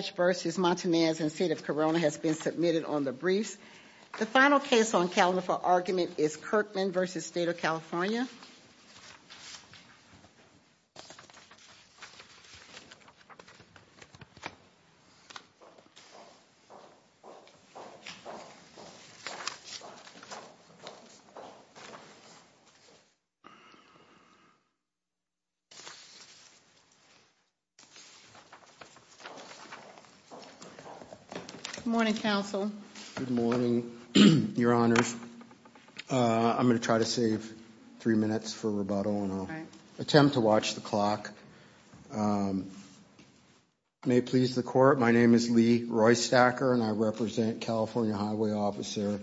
Judge versus Montanez in State of Corona has been submitted on the briefs. The final case on calendar for argument is Kirkman v. State of California. Good morning, counsel. Good morning, your honors. I'm going to try to save three minutes for rebuttal and I'll attempt to watch the clock. May it please the court, my name is Lee Roystacker and I represent California Highway Officer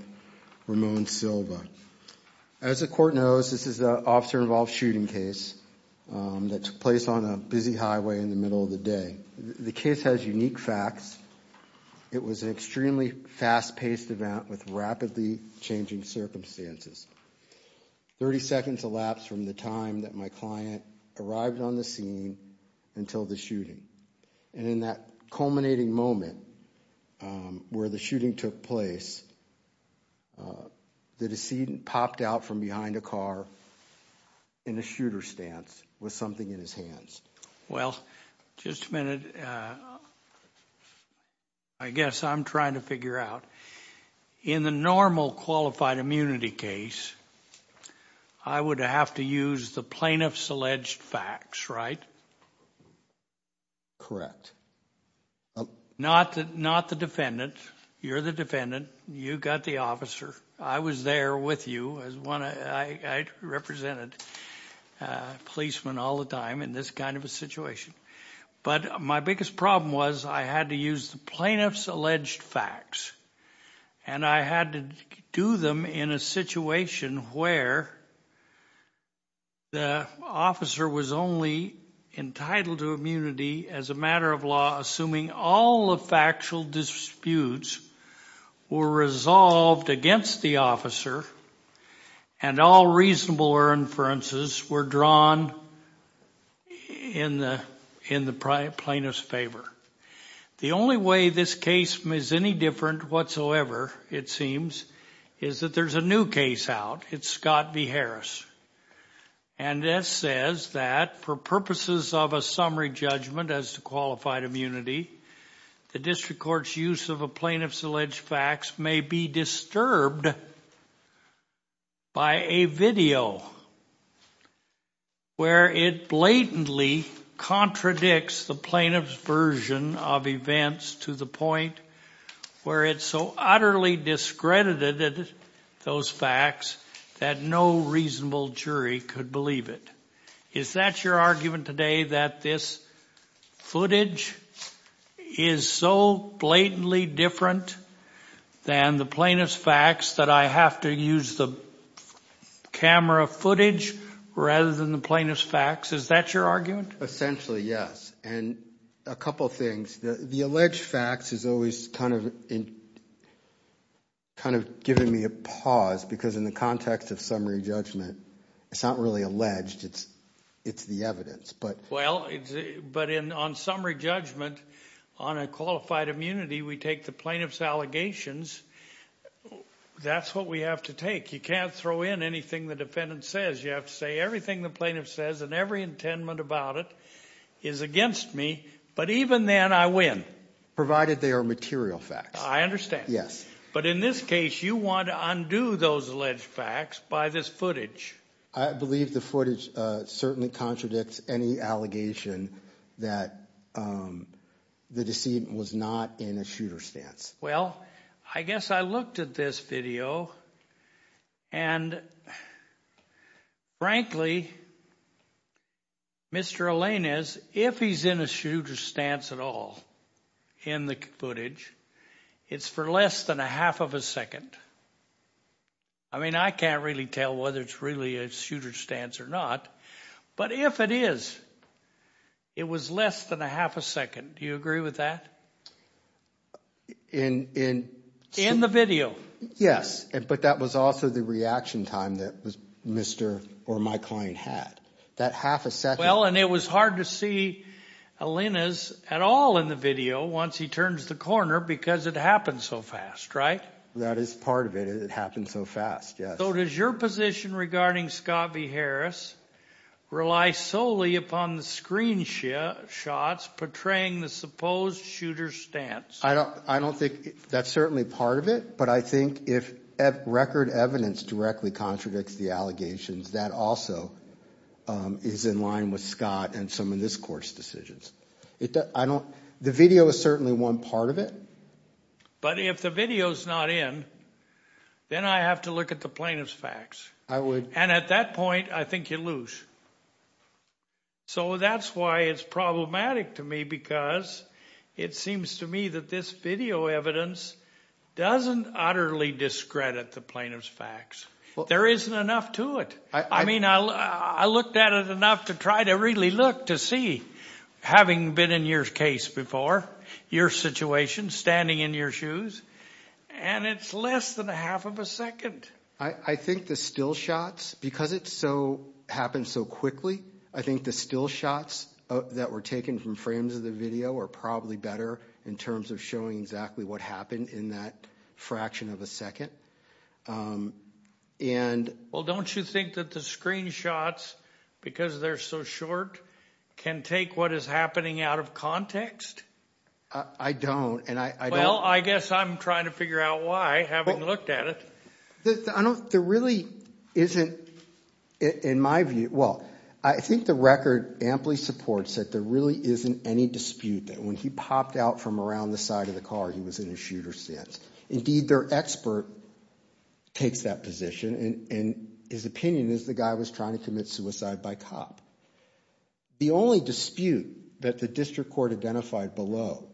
Ramon Silva. As the court knows, this is an officer-involved shooting case that took place on a busy highway in the middle of the day. The case has unique facts. It was an extremely fast-paced event with rapidly changing circumstances. Thirty seconds elapsed from the time that my client arrived on the scene until the shooting. And in that culminating moment where the shooting took place, the decedent popped out from behind a car in a shooter stance with something in his hands. Well, just a minute. I guess I'm trying to figure out. In the normal qualified immunity case, I would have to use the plaintiff's alleged facts, right? Correct. Not the defendant. You're the defendant. You got the officer. I was there with you. I represented policemen all the time in this kind of a situation. But my biggest problem was I had to use the plaintiff's alleged facts and I had to do them in a situation where the officer was only entitled to immunity as a matter of law, assuming all the factual disputes were resolved against the officer and all reasonable inferences were drawn in the plaintiff's favor. The only way this case is any different whatsoever, it seems, is that there's a new case out. It's Scott v. Harris. And this says that for purposes of a summary judgment as to qualified immunity, the district court's use of a plaintiff's alleged facts may be disturbed by a video where it blatantly contradicts the plaintiff's version of events to the point where it so utterly discredited those facts that no reasonable jury could believe it. Is that your argument today, that this footage is so blatantly different than the plaintiff's facts that I have to use the camera footage rather than the plaintiff's facts? Is that your argument? Essentially, yes. And a couple of things. The alleged facts is always kind of giving me a pause because in the context of summary judgment, it's not really alleged, it's the evidence. Well, but on summary judgment, on a qualified immunity, we take the plaintiff's allegations. That's what we have to take. You can't throw in anything the defendant says. You have to say everything the plaintiff says and every intent about it is against me. But even then, I win. Provided they are material facts. I understand. Yes. But in this case, you want to undo those alleged facts by this footage. I believe the footage certainly contradicts any allegation that the decedent was not in a shooter stance. Well, I guess I looked at this video and frankly, Mr. Alain is, if he's in a shooter stance at all in the footage, it's for less than a half of a second. I mean, I can't really tell whether it's really a shooter stance or not. But if it is, it was less than a half a second. Do you agree with that? In the video? Yes. But that was also the reaction time that Mr. or my client had. That half a second. Well, and it was hard to see Alain's at all in the video once he turns the corner because it happened so fast, right? That is part of it. It happened so fast, yes. So does your position regarding Scott v. Harris rely solely upon the screenshots portraying the supposed shooter stance? I don't think that's certainly part of it. But I think if record evidence directly contradicts the allegations, that also is in line with Scott and some of this court's decisions. The video is certainly one part of it. But if the video's not in, then I have to look at the plaintiff's facts. I would. And at that point, I think you lose. So that's why it's problematic to me because it seems to me that this video evidence doesn't utterly discredit the plaintiff's facts. There isn't enough to it. I looked at it enough to try to really look to see, having been in your case before, your situation, standing in your shoes, and it's less than a half of a second. I think the still shots, because it happened so quickly, I think the still shots that were taken from frames of the video are probably better in terms of showing exactly what happened in that fraction of a second. Well, don't you think that the screenshots, because they're so short, can take what is happening out of context? I don't. Well, I guess I'm trying to figure out why, having looked at it. There really isn't, in my view – well, I think the record amply supports that there really isn't any dispute that when he popped out from around the side of the car, he was in a shooter stance. Indeed, their expert takes that position, and his opinion is the guy was trying to commit suicide by cop. The only dispute that the district court identified below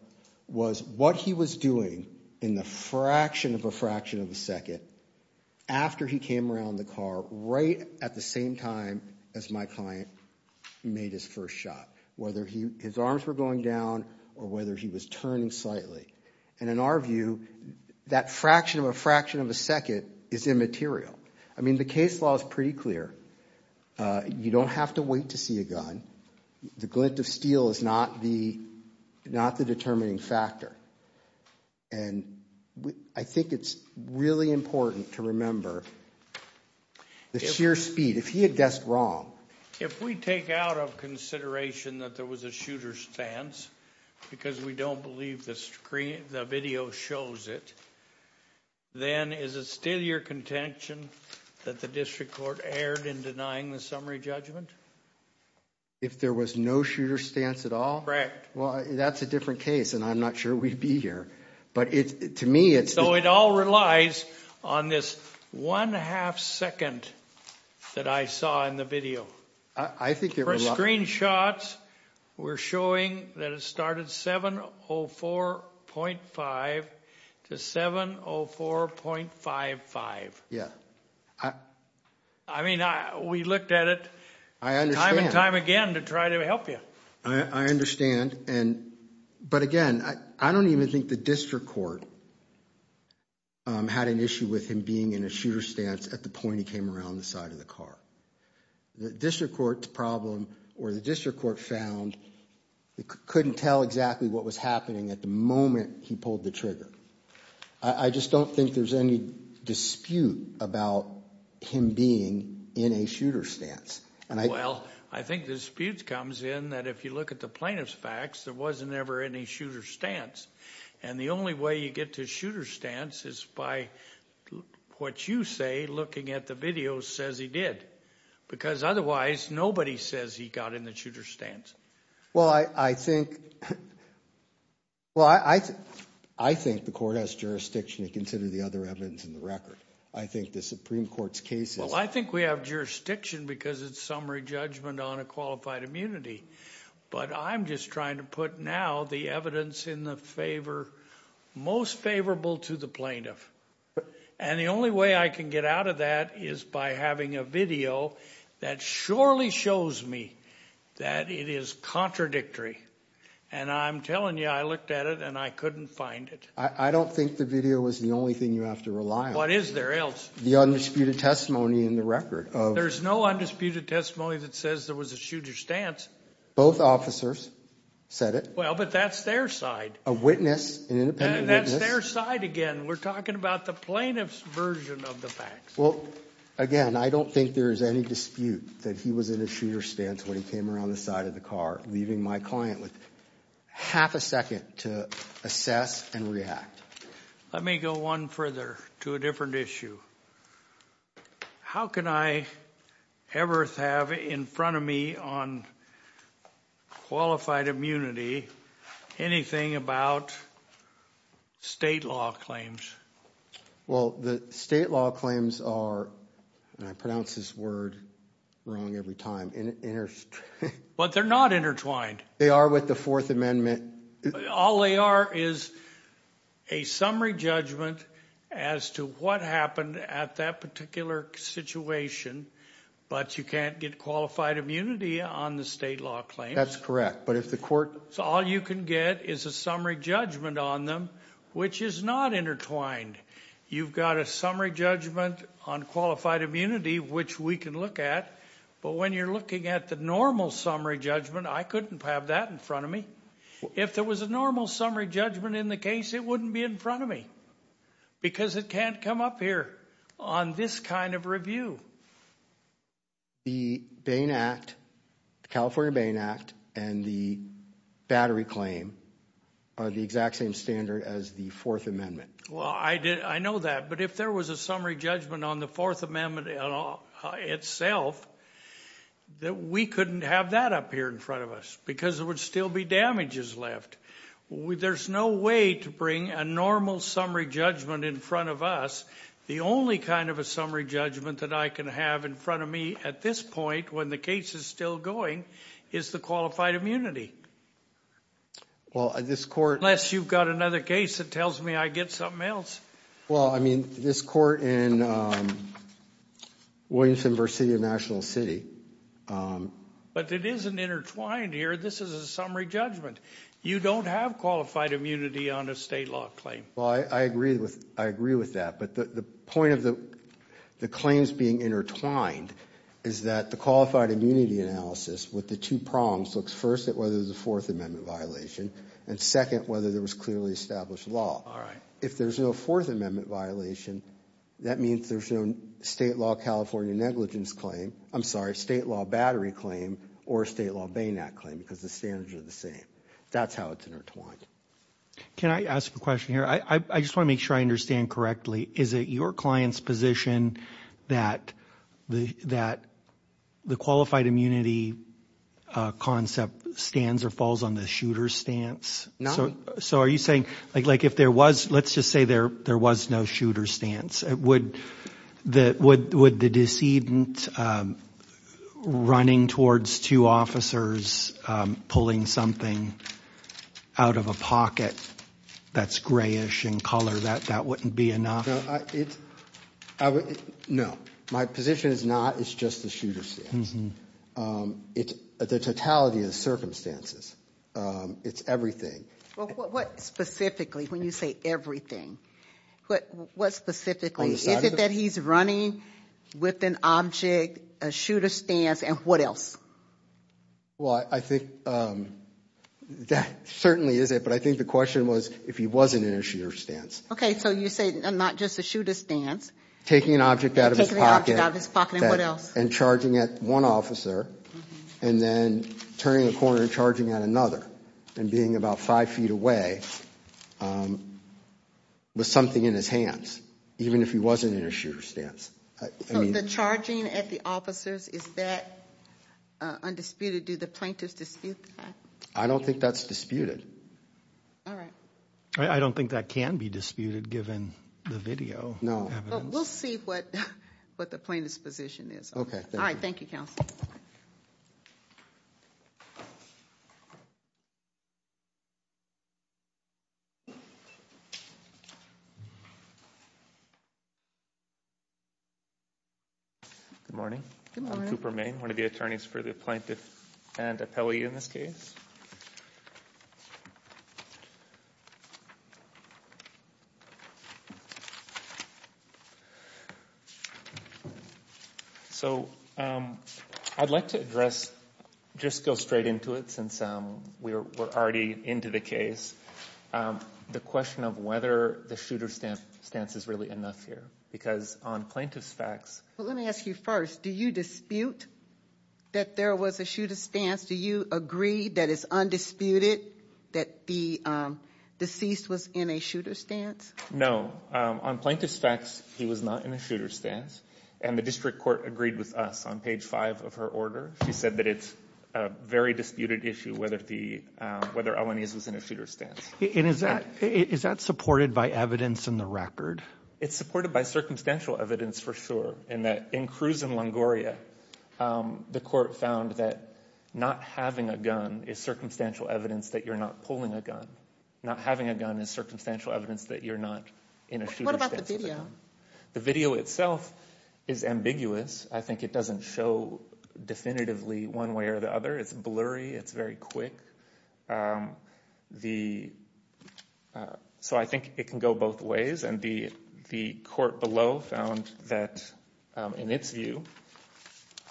was what he was doing in the fraction of a fraction of a second after he came around the car right at the same time as my client made his first shot, whether his arms were going down or whether he was turning slightly. And in our view, that fraction of a fraction of a second is immaterial. I mean the case law is pretty clear. You don't have to wait to see a gun. The glint of steel is not the determining factor. And I think it's really important to remember the sheer speed. If we take out of consideration that there was a shooter stance because we don't believe the video shows it, then is it still your contention that the district court erred in denying the summary judgment? If there was no shooter stance at all? Well, that's a different case, and I'm not sure we'd be here. So it all relies on this one half second that I saw in the video. For screenshots, we're showing that it started 704.5 to 704.55. I mean, we looked at it time and time again to try to help you. I understand. But again, I don't even think the district court had an issue with him being in a shooter stance at the point he came around the side of the car. The district court's problem, or the district court found, couldn't tell exactly what was happening at the moment he pulled the trigger. I just don't think there's any dispute about him being in a shooter stance. Well, I think the dispute comes in that if you look at the plaintiff's facts, there wasn't ever any shooter stance. And the only way you get to shooter stance is by what you say looking at the video says he did. Because otherwise, nobody says he got in the shooter stance. Well, I think the court has jurisdiction to consider the other evidence in the record. Well, I think we have jurisdiction because it's summary judgment on a qualified immunity. But I'm just trying to put now the evidence in the favor most favorable to the plaintiff. And the only way I can get out of that is by having a video that surely shows me that it is contradictory. And I'm telling you, I looked at it and I couldn't find it. I don't think the video is the only thing you have to rely on. What is there else? The undisputed testimony in the record. There's no undisputed testimony that says there was a shooter stance. Both officers said it. Well, but that's their side. A witness, an independent witness. And that's their side again. We're talking about the plaintiff's version of the facts. Well, again, I don't think there's any dispute that he was in a shooter stance when he came around the side of the car, leaving my client with half a second to assess and react. Let me go one further to a different issue. How can I ever have in front of me on qualified immunity anything about state law claims? Well, the state law claims are, and I pronounce this word wrong every time, intertwined. But they're not intertwined. They are with the Fourth Amendment. All they are is a summary judgment as to what happened at that particular situation. But you can't get qualified immunity on the state law claims. That's correct. So all you can get is a summary judgment on them, which is not intertwined. You've got a summary judgment on qualified immunity, which we can look at. But when you're looking at the normal summary judgment, I couldn't have that in front of me. If there was a normal summary judgment in the case, it wouldn't be in front of me because it can't come up here on this kind of review. The Bain Act, the California Bain Act, and the battery claim are the exact same standard as the Fourth Amendment. Well, I know that. But if there was a summary judgment on the Fourth Amendment itself, we couldn't have that up here in front of us because there would still be damages left. There's no way to bring a normal summary judgment in front of us. The only kind of a summary judgment that I can have in front of me at this point, when the case is still going, is the qualified immunity. Unless you've got another case that tells me I get something else. Well, I mean, this court in Williamson-Virginia National City. But it isn't intertwined here. This is a summary judgment. You don't have qualified immunity on a state law claim. Well, I agree with that. But the point of the claims being intertwined is that the qualified immunity analysis, with the two prongs, looks first at whether there's a Fourth Amendment violation, and second, whether there was clearly established law. All right. If there's no Fourth Amendment violation, that means there's no state law California negligence claim. I'm sorry, state law battery claim or state law Bain Act claim because the standards are the same. That's how it's intertwined. Can I ask a question here? I just want to make sure I understand correctly. Is it your client's position that the qualified immunity concept stands or falls on the shooter's stance? So are you saying, like, if there was, let's just say there was no shooter's stance, would the decedent running towards two officers pulling something out of a pocket that's grayish in color, that that wouldn't be enough? No. My position is not it's just the shooter's stance. The totality of the circumstances, it's everything. Well, what specifically, when you say everything, what specifically? Is it that he's running with an object, a shooter's stance, and what else? Well, I think that certainly is it, but I think the question was if he wasn't in a shooter's stance. Okay, so you say not just a shooter's stance. Taking an object out of his pocket. Taking an object out of his pocket, and what else? And charging at one officer, and then turning a corner and charging at another, and being about five feet away with something in his hands, even if he wasn't in a shooter's stance. So the charging at the officers, is that undisputed? Do the plaintiffs dispute that? I don't think that's disputed. All right. I don't think that can be disputed, given the video. No. But we'll see what the plaintiff's position is. Okay, thank you. All right, thank you, Counsel. Good morning. Good morning. I'm Cooper Mayne, one of the attorneys for the plaintiff and appellee in this case. So I'd like to address, just go straight into it, since we're already into the case, the question of whether the shooter's stance is really enough here. Because on plaintiff's facts. Well, let me ask you first. Do you dispute that there was a shooter's stance? Do you agree that it's undisputed that the deceased was in a shooter's stance? No. On plaintiff's facts, he was not in a shooter's stance. And the district court agreed with us on page five of her order. She said that it's a very disputed issue whether Elaniz was in a shooter's stance. And is that supported by evidence in the record? It's supported by circumstantial evidence, for sure, in that in Cruz and Longoria, the court found that not having a gun is circumstantial evidence that you're not pulling a gun. Not having a gun is circumstantial evidence that you're not in a shooter's stance. What about the video? The video itself is ambiguous. I think it doesn't show definitively one way or the other. It's blurry. It's very quick. So I think it can go both ways. And the court below found that, in its view,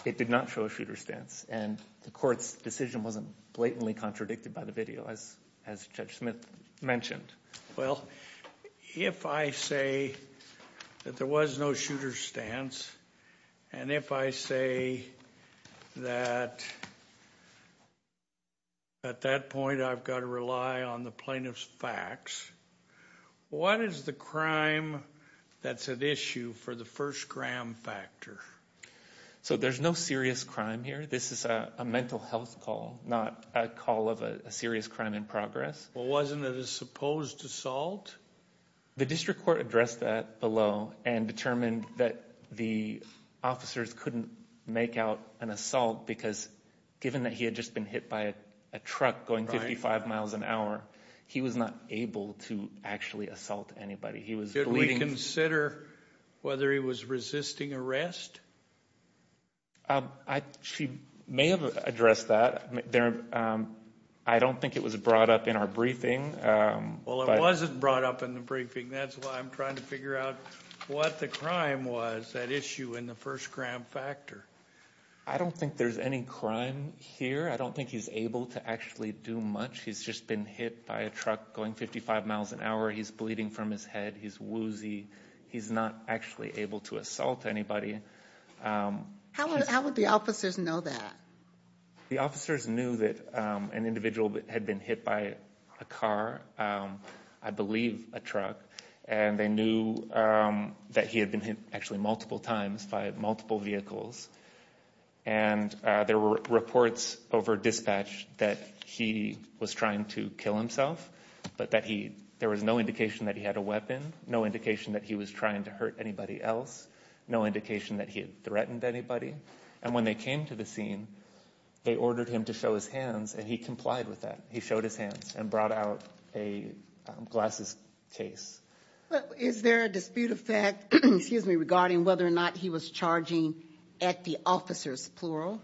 it did not show a shooter's stance. And the court's decision wasn't blatantly contradicted by the video, as Judge Smith mentioned. Well, if I say that there was no shooter's stance, and if I say that at that point I've got to rely on the plaintiff's facts, what is the crime that's at issue for the first gram factor? So there's no serious crime here? This is a mental health call, not a call of a serious crime in progress? Well, wasn't it a supposed assault? The district court addressed that below and determined that the officers couldn't make out an assault because, given that he had just been hit by a truck going 55 miles an hour, he was not able to actually assault anybody. Did we consider whether he was resisting arrest? She may have addressed that. I don't think it was brought up in our briefing. Well, it wasn't brought up in the briefing. That's why I'm trying to figure out what the crime was at issue in the first gram factor. I don't think there's any crime here. I don't think he's able to actually do much. He's just been hit by a truck going 55 miles an hour. He's bleeding from his head. He's woozy. He's not actually able to assault anybody. How would the officers know that? The officers knew that an individual had been hit by a car, I believe a truck, and they knew that he had been hit actually multiple times by multiple vehicles. And there were reports over dispatch that he was trying to kill himself, but there was no indication that he had a weapon, no indication that he was trying to hurt anybody else, no indication that he had threatened anybody. And when they came to the scene, they ordered him to show his hands, and he complied with that. He showed his hands and brought out a glasses case. Is there a dispute of fact regarding whether or not he was charging at the officers, plural?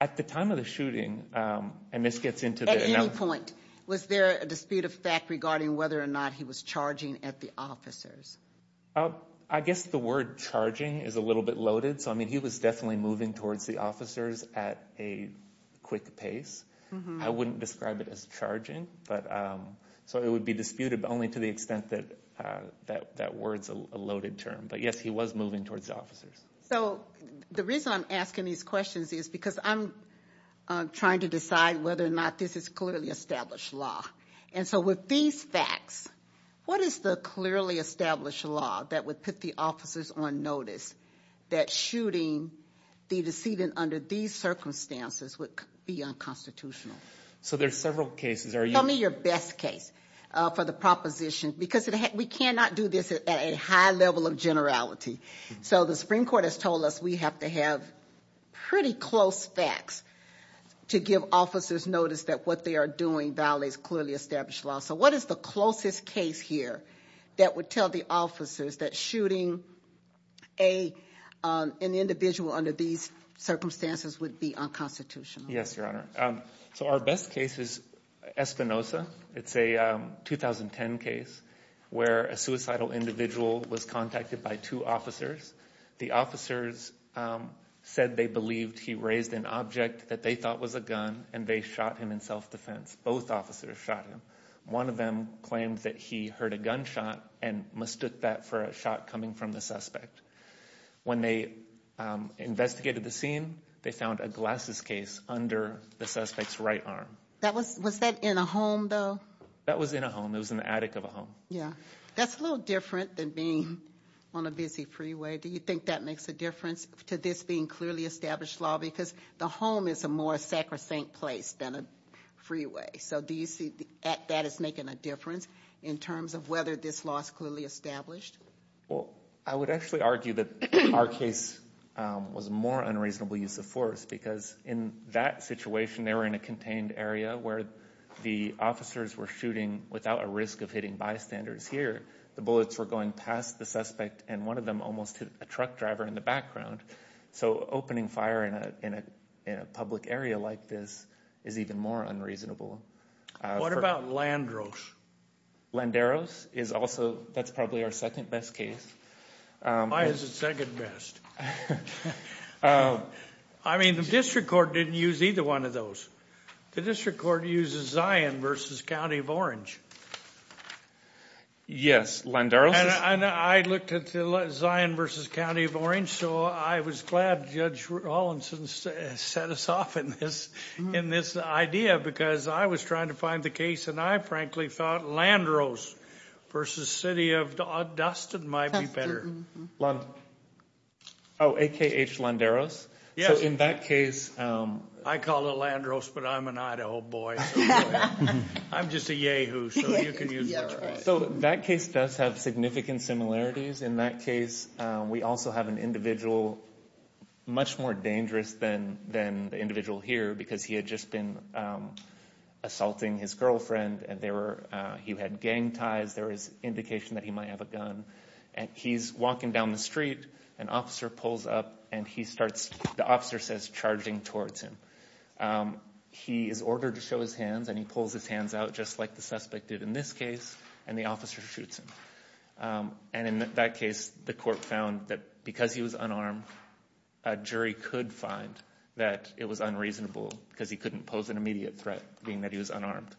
At the time of the shooting, and this gets into the other point. Was there a dispute of fact regarding whether or not he was charging at the officers? I guess the word charging is a little bit loaded. So, I mean, he was definitely moving towards the officers at a quick pace. I wouldn't describe it as charging. So it would be disputed, but only to the extent that that word's a loaded term. But, yes, he was moving towards the officers. So the reason I'm asking these questions is because I'm trying to decide whether or not this is clearly established law. And so with these facts, what is the clearly established law that would put the officers on notice that shooting the decedent under these circumstances would be unconstitutional? So there's several cases. Tell me your best case for the proposition, because we cannot do this at a high level of generality. So the Supreme Court has told us we have to have pretty close facts to give officers notice that what they are doing violates clearly established law. So what is the closest case here that would tell the officers that shooting an individual under these circumstances would be unconstitutional? Yes, Your Honor. So our best case is Espinoza. It's a 2010 case where a suicidal individual was contacted by two officers. The officers said they believed he raised an object that they thought was a gun, and they shot him in self-defense. Both officers shot him. One of them claimed that he heard a gunshot and mistook that for a shot coming from the suspect. When they investigated the scene, they found a glasses case under the suspect's right arm. Was that in a home, though? That was in a home. It was in the attic of a home. Yeah. That's a little different than being on a busy freeway. Do you think that makes a difference to this being clearly established law? Because the home is a more sacrosanct place than a freeway. So do you see that as making a difference in terms of whether this law is clearly established? Well, I would actually argue that our case was a more unreasonable use of force because in that situation, they were in a contained area where the officers were shooting without a risk of hitting bystanders here. The bullets were going past the suspect, and one of them almost hit a truck driver in the background. So opening fire in a public area like this is even more unreasonable. What about Landeros? Landeros is also, that's probably our second best case. Why is it second best? I mean, the district court didn't use either one of those. The district court uses Zion v. County of Orange. Yes, Landeros is. And I looked at the Zion v. County of Orange, so I was glad Judge Hollinson set us off in this idea because I was trying to find the case, and I frankly thought Landeros v. City of Dustin might be better. Oh, a.k.a. H. Landeros? Yes. So in that case... I call it Landeros, but I'm an Idaho boy. I'm just a Yehoo, so you can use that. So that case does have significant similarities. In that case, we also have an individual much more dangerous than the individual here because he had just been assaulting his girlfriend, and he had gang ties. There was indication that he might have a gun. And he's walking down the street. An officer pulls up, and he starts, the officer says, charging towards him. He is ordered to show his hands, and he pulls his hands out just like the suspect did in this case, and the officer shoots him. And in that case, the court found that because he was unarmed, a jury could find that it was unreasonable because he couldn't pose an immediate threat, being that he was unarmed.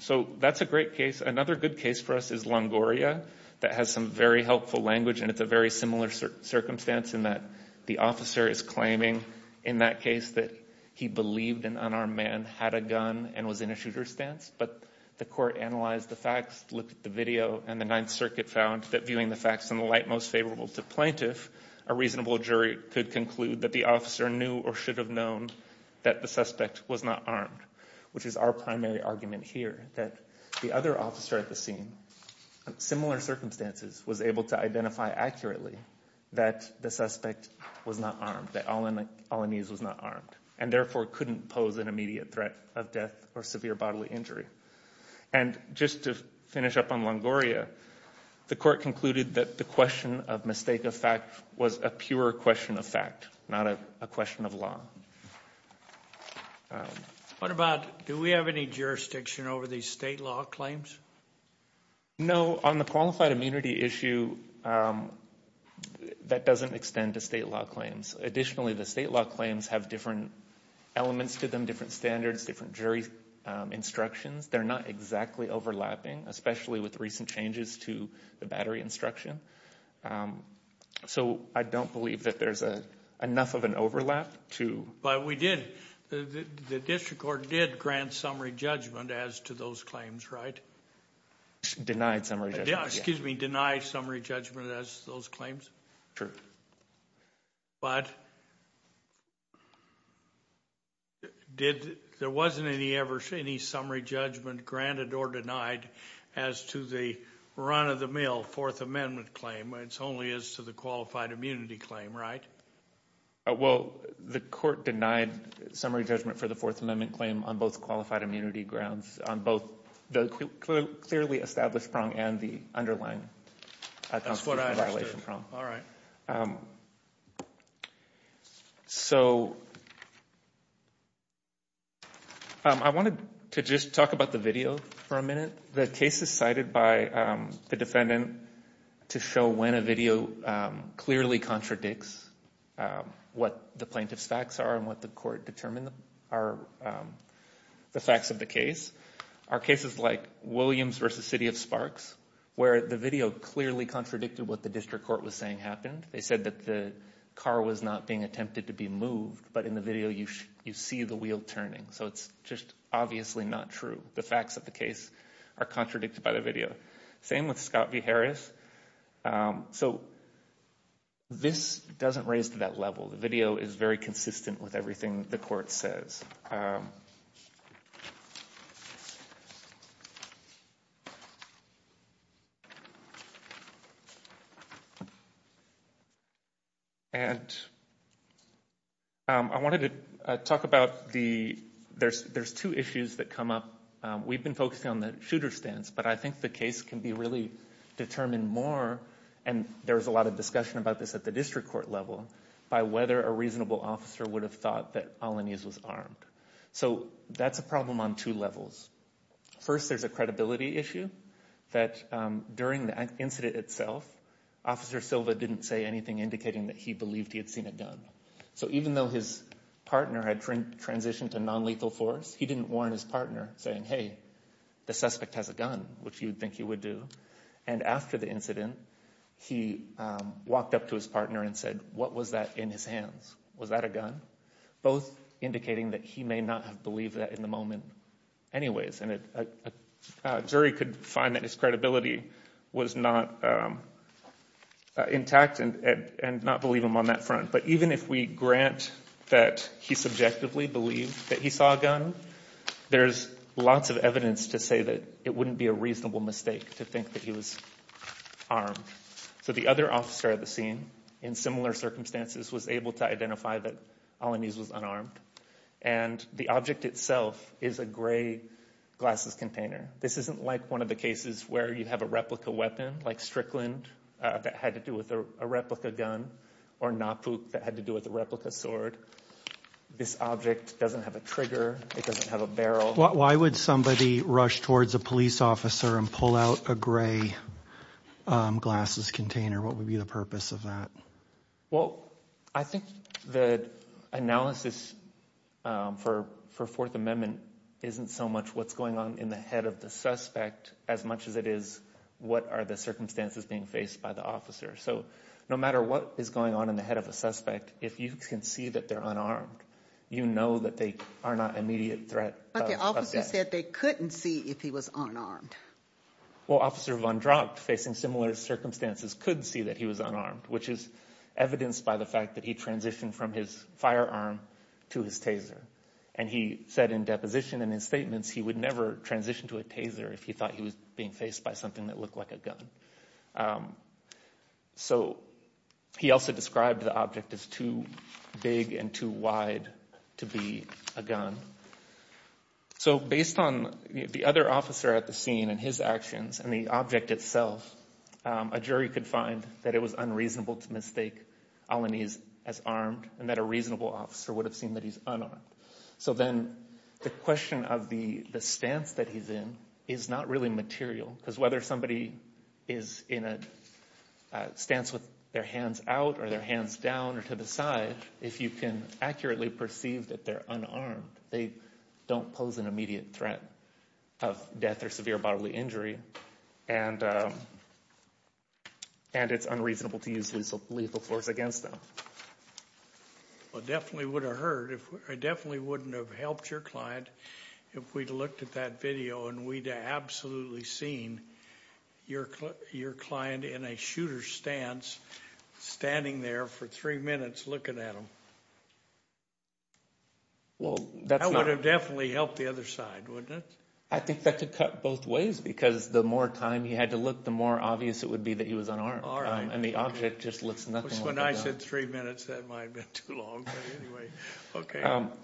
So that's a great case. Another good case for us is Longoria that has some very helpful language, and it's a very similar circumstance in that the officer is claiming in that case that he believed an unarmed man had a gun and was in a shooter's stance, but the court analyzed the facts, looked at the video, and the Ninth Circuit found that viewing the facts in the light most favorable to plaintiff, a reasonable jury could conclude that the officer knew or should have known that the suspect was not armed, which is our primary argument here, that the other officer at the scene, similar circumstances, was able to identify accurately that the suspect was not armed, that Alaniz was not armed, and therefore couldn't pose an immediate threat of death or severe bodily injury. And just to finish up on Longoria, the court concluded that the question of mistake of fact was a pure question of fact, not a question of law. What about do we have any jurisdiction over these state law claims? No. On the qualified immunity issue, that doesn't extend to state law claims. Additionally, the state law claims have different elements to them, different standards, different jury instructions. They're not exactly overlapping, especially with recent changes to the battery instruction. So I don't believe that there's enough of an overlap to— But we did. The district court did grant summary judgment as to those claims, right? Denied summary judgment, yes. Excuse me, denied summary judgment as to those claims? Sure. But there wasn't any summary judgment granted or denied as to the run-of-the-mill Fourth Amendment claim. It's only as to the qualified immunity claim, right? Well, the court denied summary judgment for the Fourth Amendment claim on both qualified immunity grounds, on both the clearly established prong and the underlying constitutional violation prong. All right. So I wanted to just talk about the video for a minute. The case is cited by the defendant to show when a video clearly contradicts what the plaintiff's facts are and what the court determined are the facts of the case. Our cases like Williams v. City of Sparks, where the video clearly contradicted what the district court was saying happened. They said that the car was not being attempted to be moved, but in the video you see the wheel turning. So it's just obviously not true. The facts of the case are contradicted by the video. Same with Scott v. Harris. So this doesn't raise to that level. The video is very consistent with everything the court says. And I wanted to talk about the ‑‑ there's two issues that come up. We've been focusing on the shooter stance, but I think the case can be really determined more, and there was a lot of discussion about this at the district court level, by whether a reasonable officer would have thought that Alaniz was armed. So that's a problem on two levels. First, there's a credibility issue that during the incident itself, Officer Silva didn't say anything indicating that he believed he had seen a gun. So even though his partner had transitioned to nonlethal force, he didn't warn his partner saying, hey, the suspect has a gun, which you would think he would do. And after the incident, he walked up to his partner and said, what was that in his hands? Was that a gun? Both indicating that he may not have believed that in the moment anyways. And a jury could find that his credibility was not intact and not believe him on that front. But even if we grant that he subjectively believed that he saw a gun, there's lots of evidence to say that it wouldn't be a reasonable mistake to think that he was armed. So the other officer at the scene, in similar circumstances, was able to identify that Alaniz was unarmed. And the object itself is a gray glasses container. This isn't like one of the cases where you have a replica weapon, like Strickland, that had to do with a replica gun, or Napook, that had to do with a replica sword. This object doesn't have a trigger. It doesn't have a barrel. Why would somebody rush towards a police officer and pull out a gray glasses container? What would be the purpose of that? Well, I think the analysis for Fourth Amendment isn't so much what's going on in the head of the suspect, as much as it is what are the circumstances being faced by the officer. So no matter what is going on in the head of a suspect, if you can see that they're unarmed, you know that they are not immediate threat of death. But the officer said they couldn't see if he was unarmed. Well, Officer Von Dracht, facing similar circumstances, could see that he was unarmed, which is evidenced by the fact that he transitioned from his firearm to his taser. And he said in deposition in his statements he would never transition to a taser if he thought he was being faced by something that looked like a gun. So he also described the object as too big and too wide to be a gun. So based on the other officer at the scene and his actions and the object itself, a jury could find that it was unreasonable to mistake Alaniz as armed and that a reasonable officer would have seen that he's unarmed. So then the question of the stance that he's in is not really material because whether somebody is in a stance with their hands out or their hands down or to the side, if you can accurately perceive that they're unarmed, they don't pose an immediate threat of death or severe bodily injury, and it's unreasonable to use lethal force against them. It definitely would have hurt. It definitely wouldn't have helped your client if we'd looked at that video and we'd absolutely seen your client in a shooter's stance standing there for three minutes looking at him. That would have definitely helped the other side, wouldn't it? I think that could cut both ways because the more time he had to look, the more obvious it would be that he was unarmed and the object just looks nothing like a gun. When I said three minutes, that might have been too long.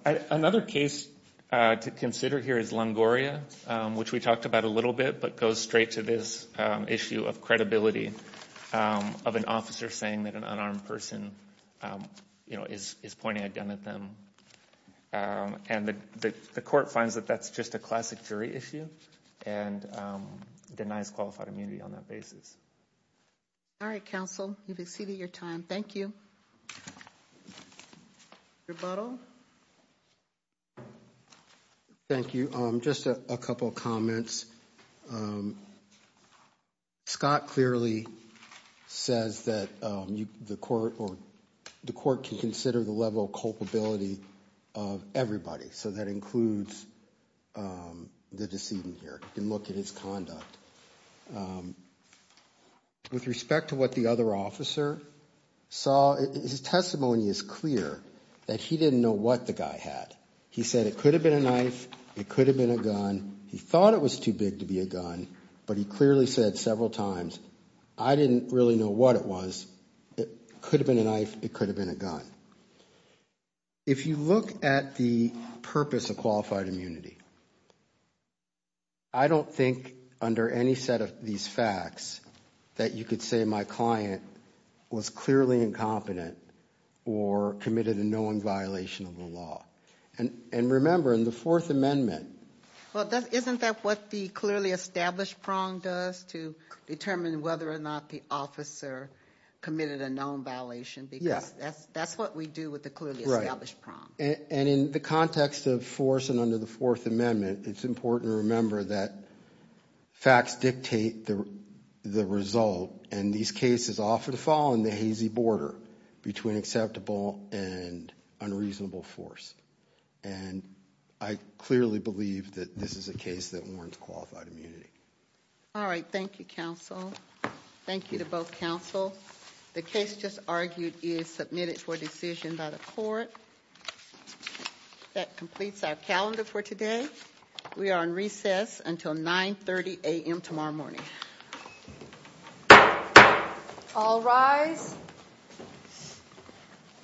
Another case to consider here is Longoria, which we talked about a little bit, but goes straight to this issue of credibility of an officer saying that an unarmed person is pointing a gun at them. And the court finds that that's just a classic jury issue and denies qualified immunity on that basis. All right, counsel, you've exceeded your time. Thank you. Rebuttal. Thank you. Just a couple of comments. Scott clearly says that the court can consider the level of culpability of everybody. So that includes the decedent here. You can look at his conduct. With respect to what the other officer saw, his testimony is clear that he didn't know what the guy had. He said it could have been a knife. It could have been a gun. He thought it was too big to be a gun, but he clearly said several times, I didn't really know what it was. It could have been a knife. It could have been a gun. If you look at the purpose of qualified immunity, I don't think under any set of these facts that you could say my client was clearly incompetent or committed a known violation of the law. And remember, in the Fourth Amendment. Well, isn't that what the clearly established prong does to determine whether or not the officer committed a known violation? Because that's what we do with the clearly established prong. And in the context of force and under the Fourth Amendment, it's important to remember that facts dictate the result. And these cases often fall on the hazy border between acceptable and unreasonable force. And I clearly believe that this is a case that warrants qualified immunity. All right. Thank you, counsel. Thank you to both counsel. The case just argued is submitted for decision by the court. That completes our calendar for today. We are on recess until 9.30 a.m. tomorrow morning. All rise.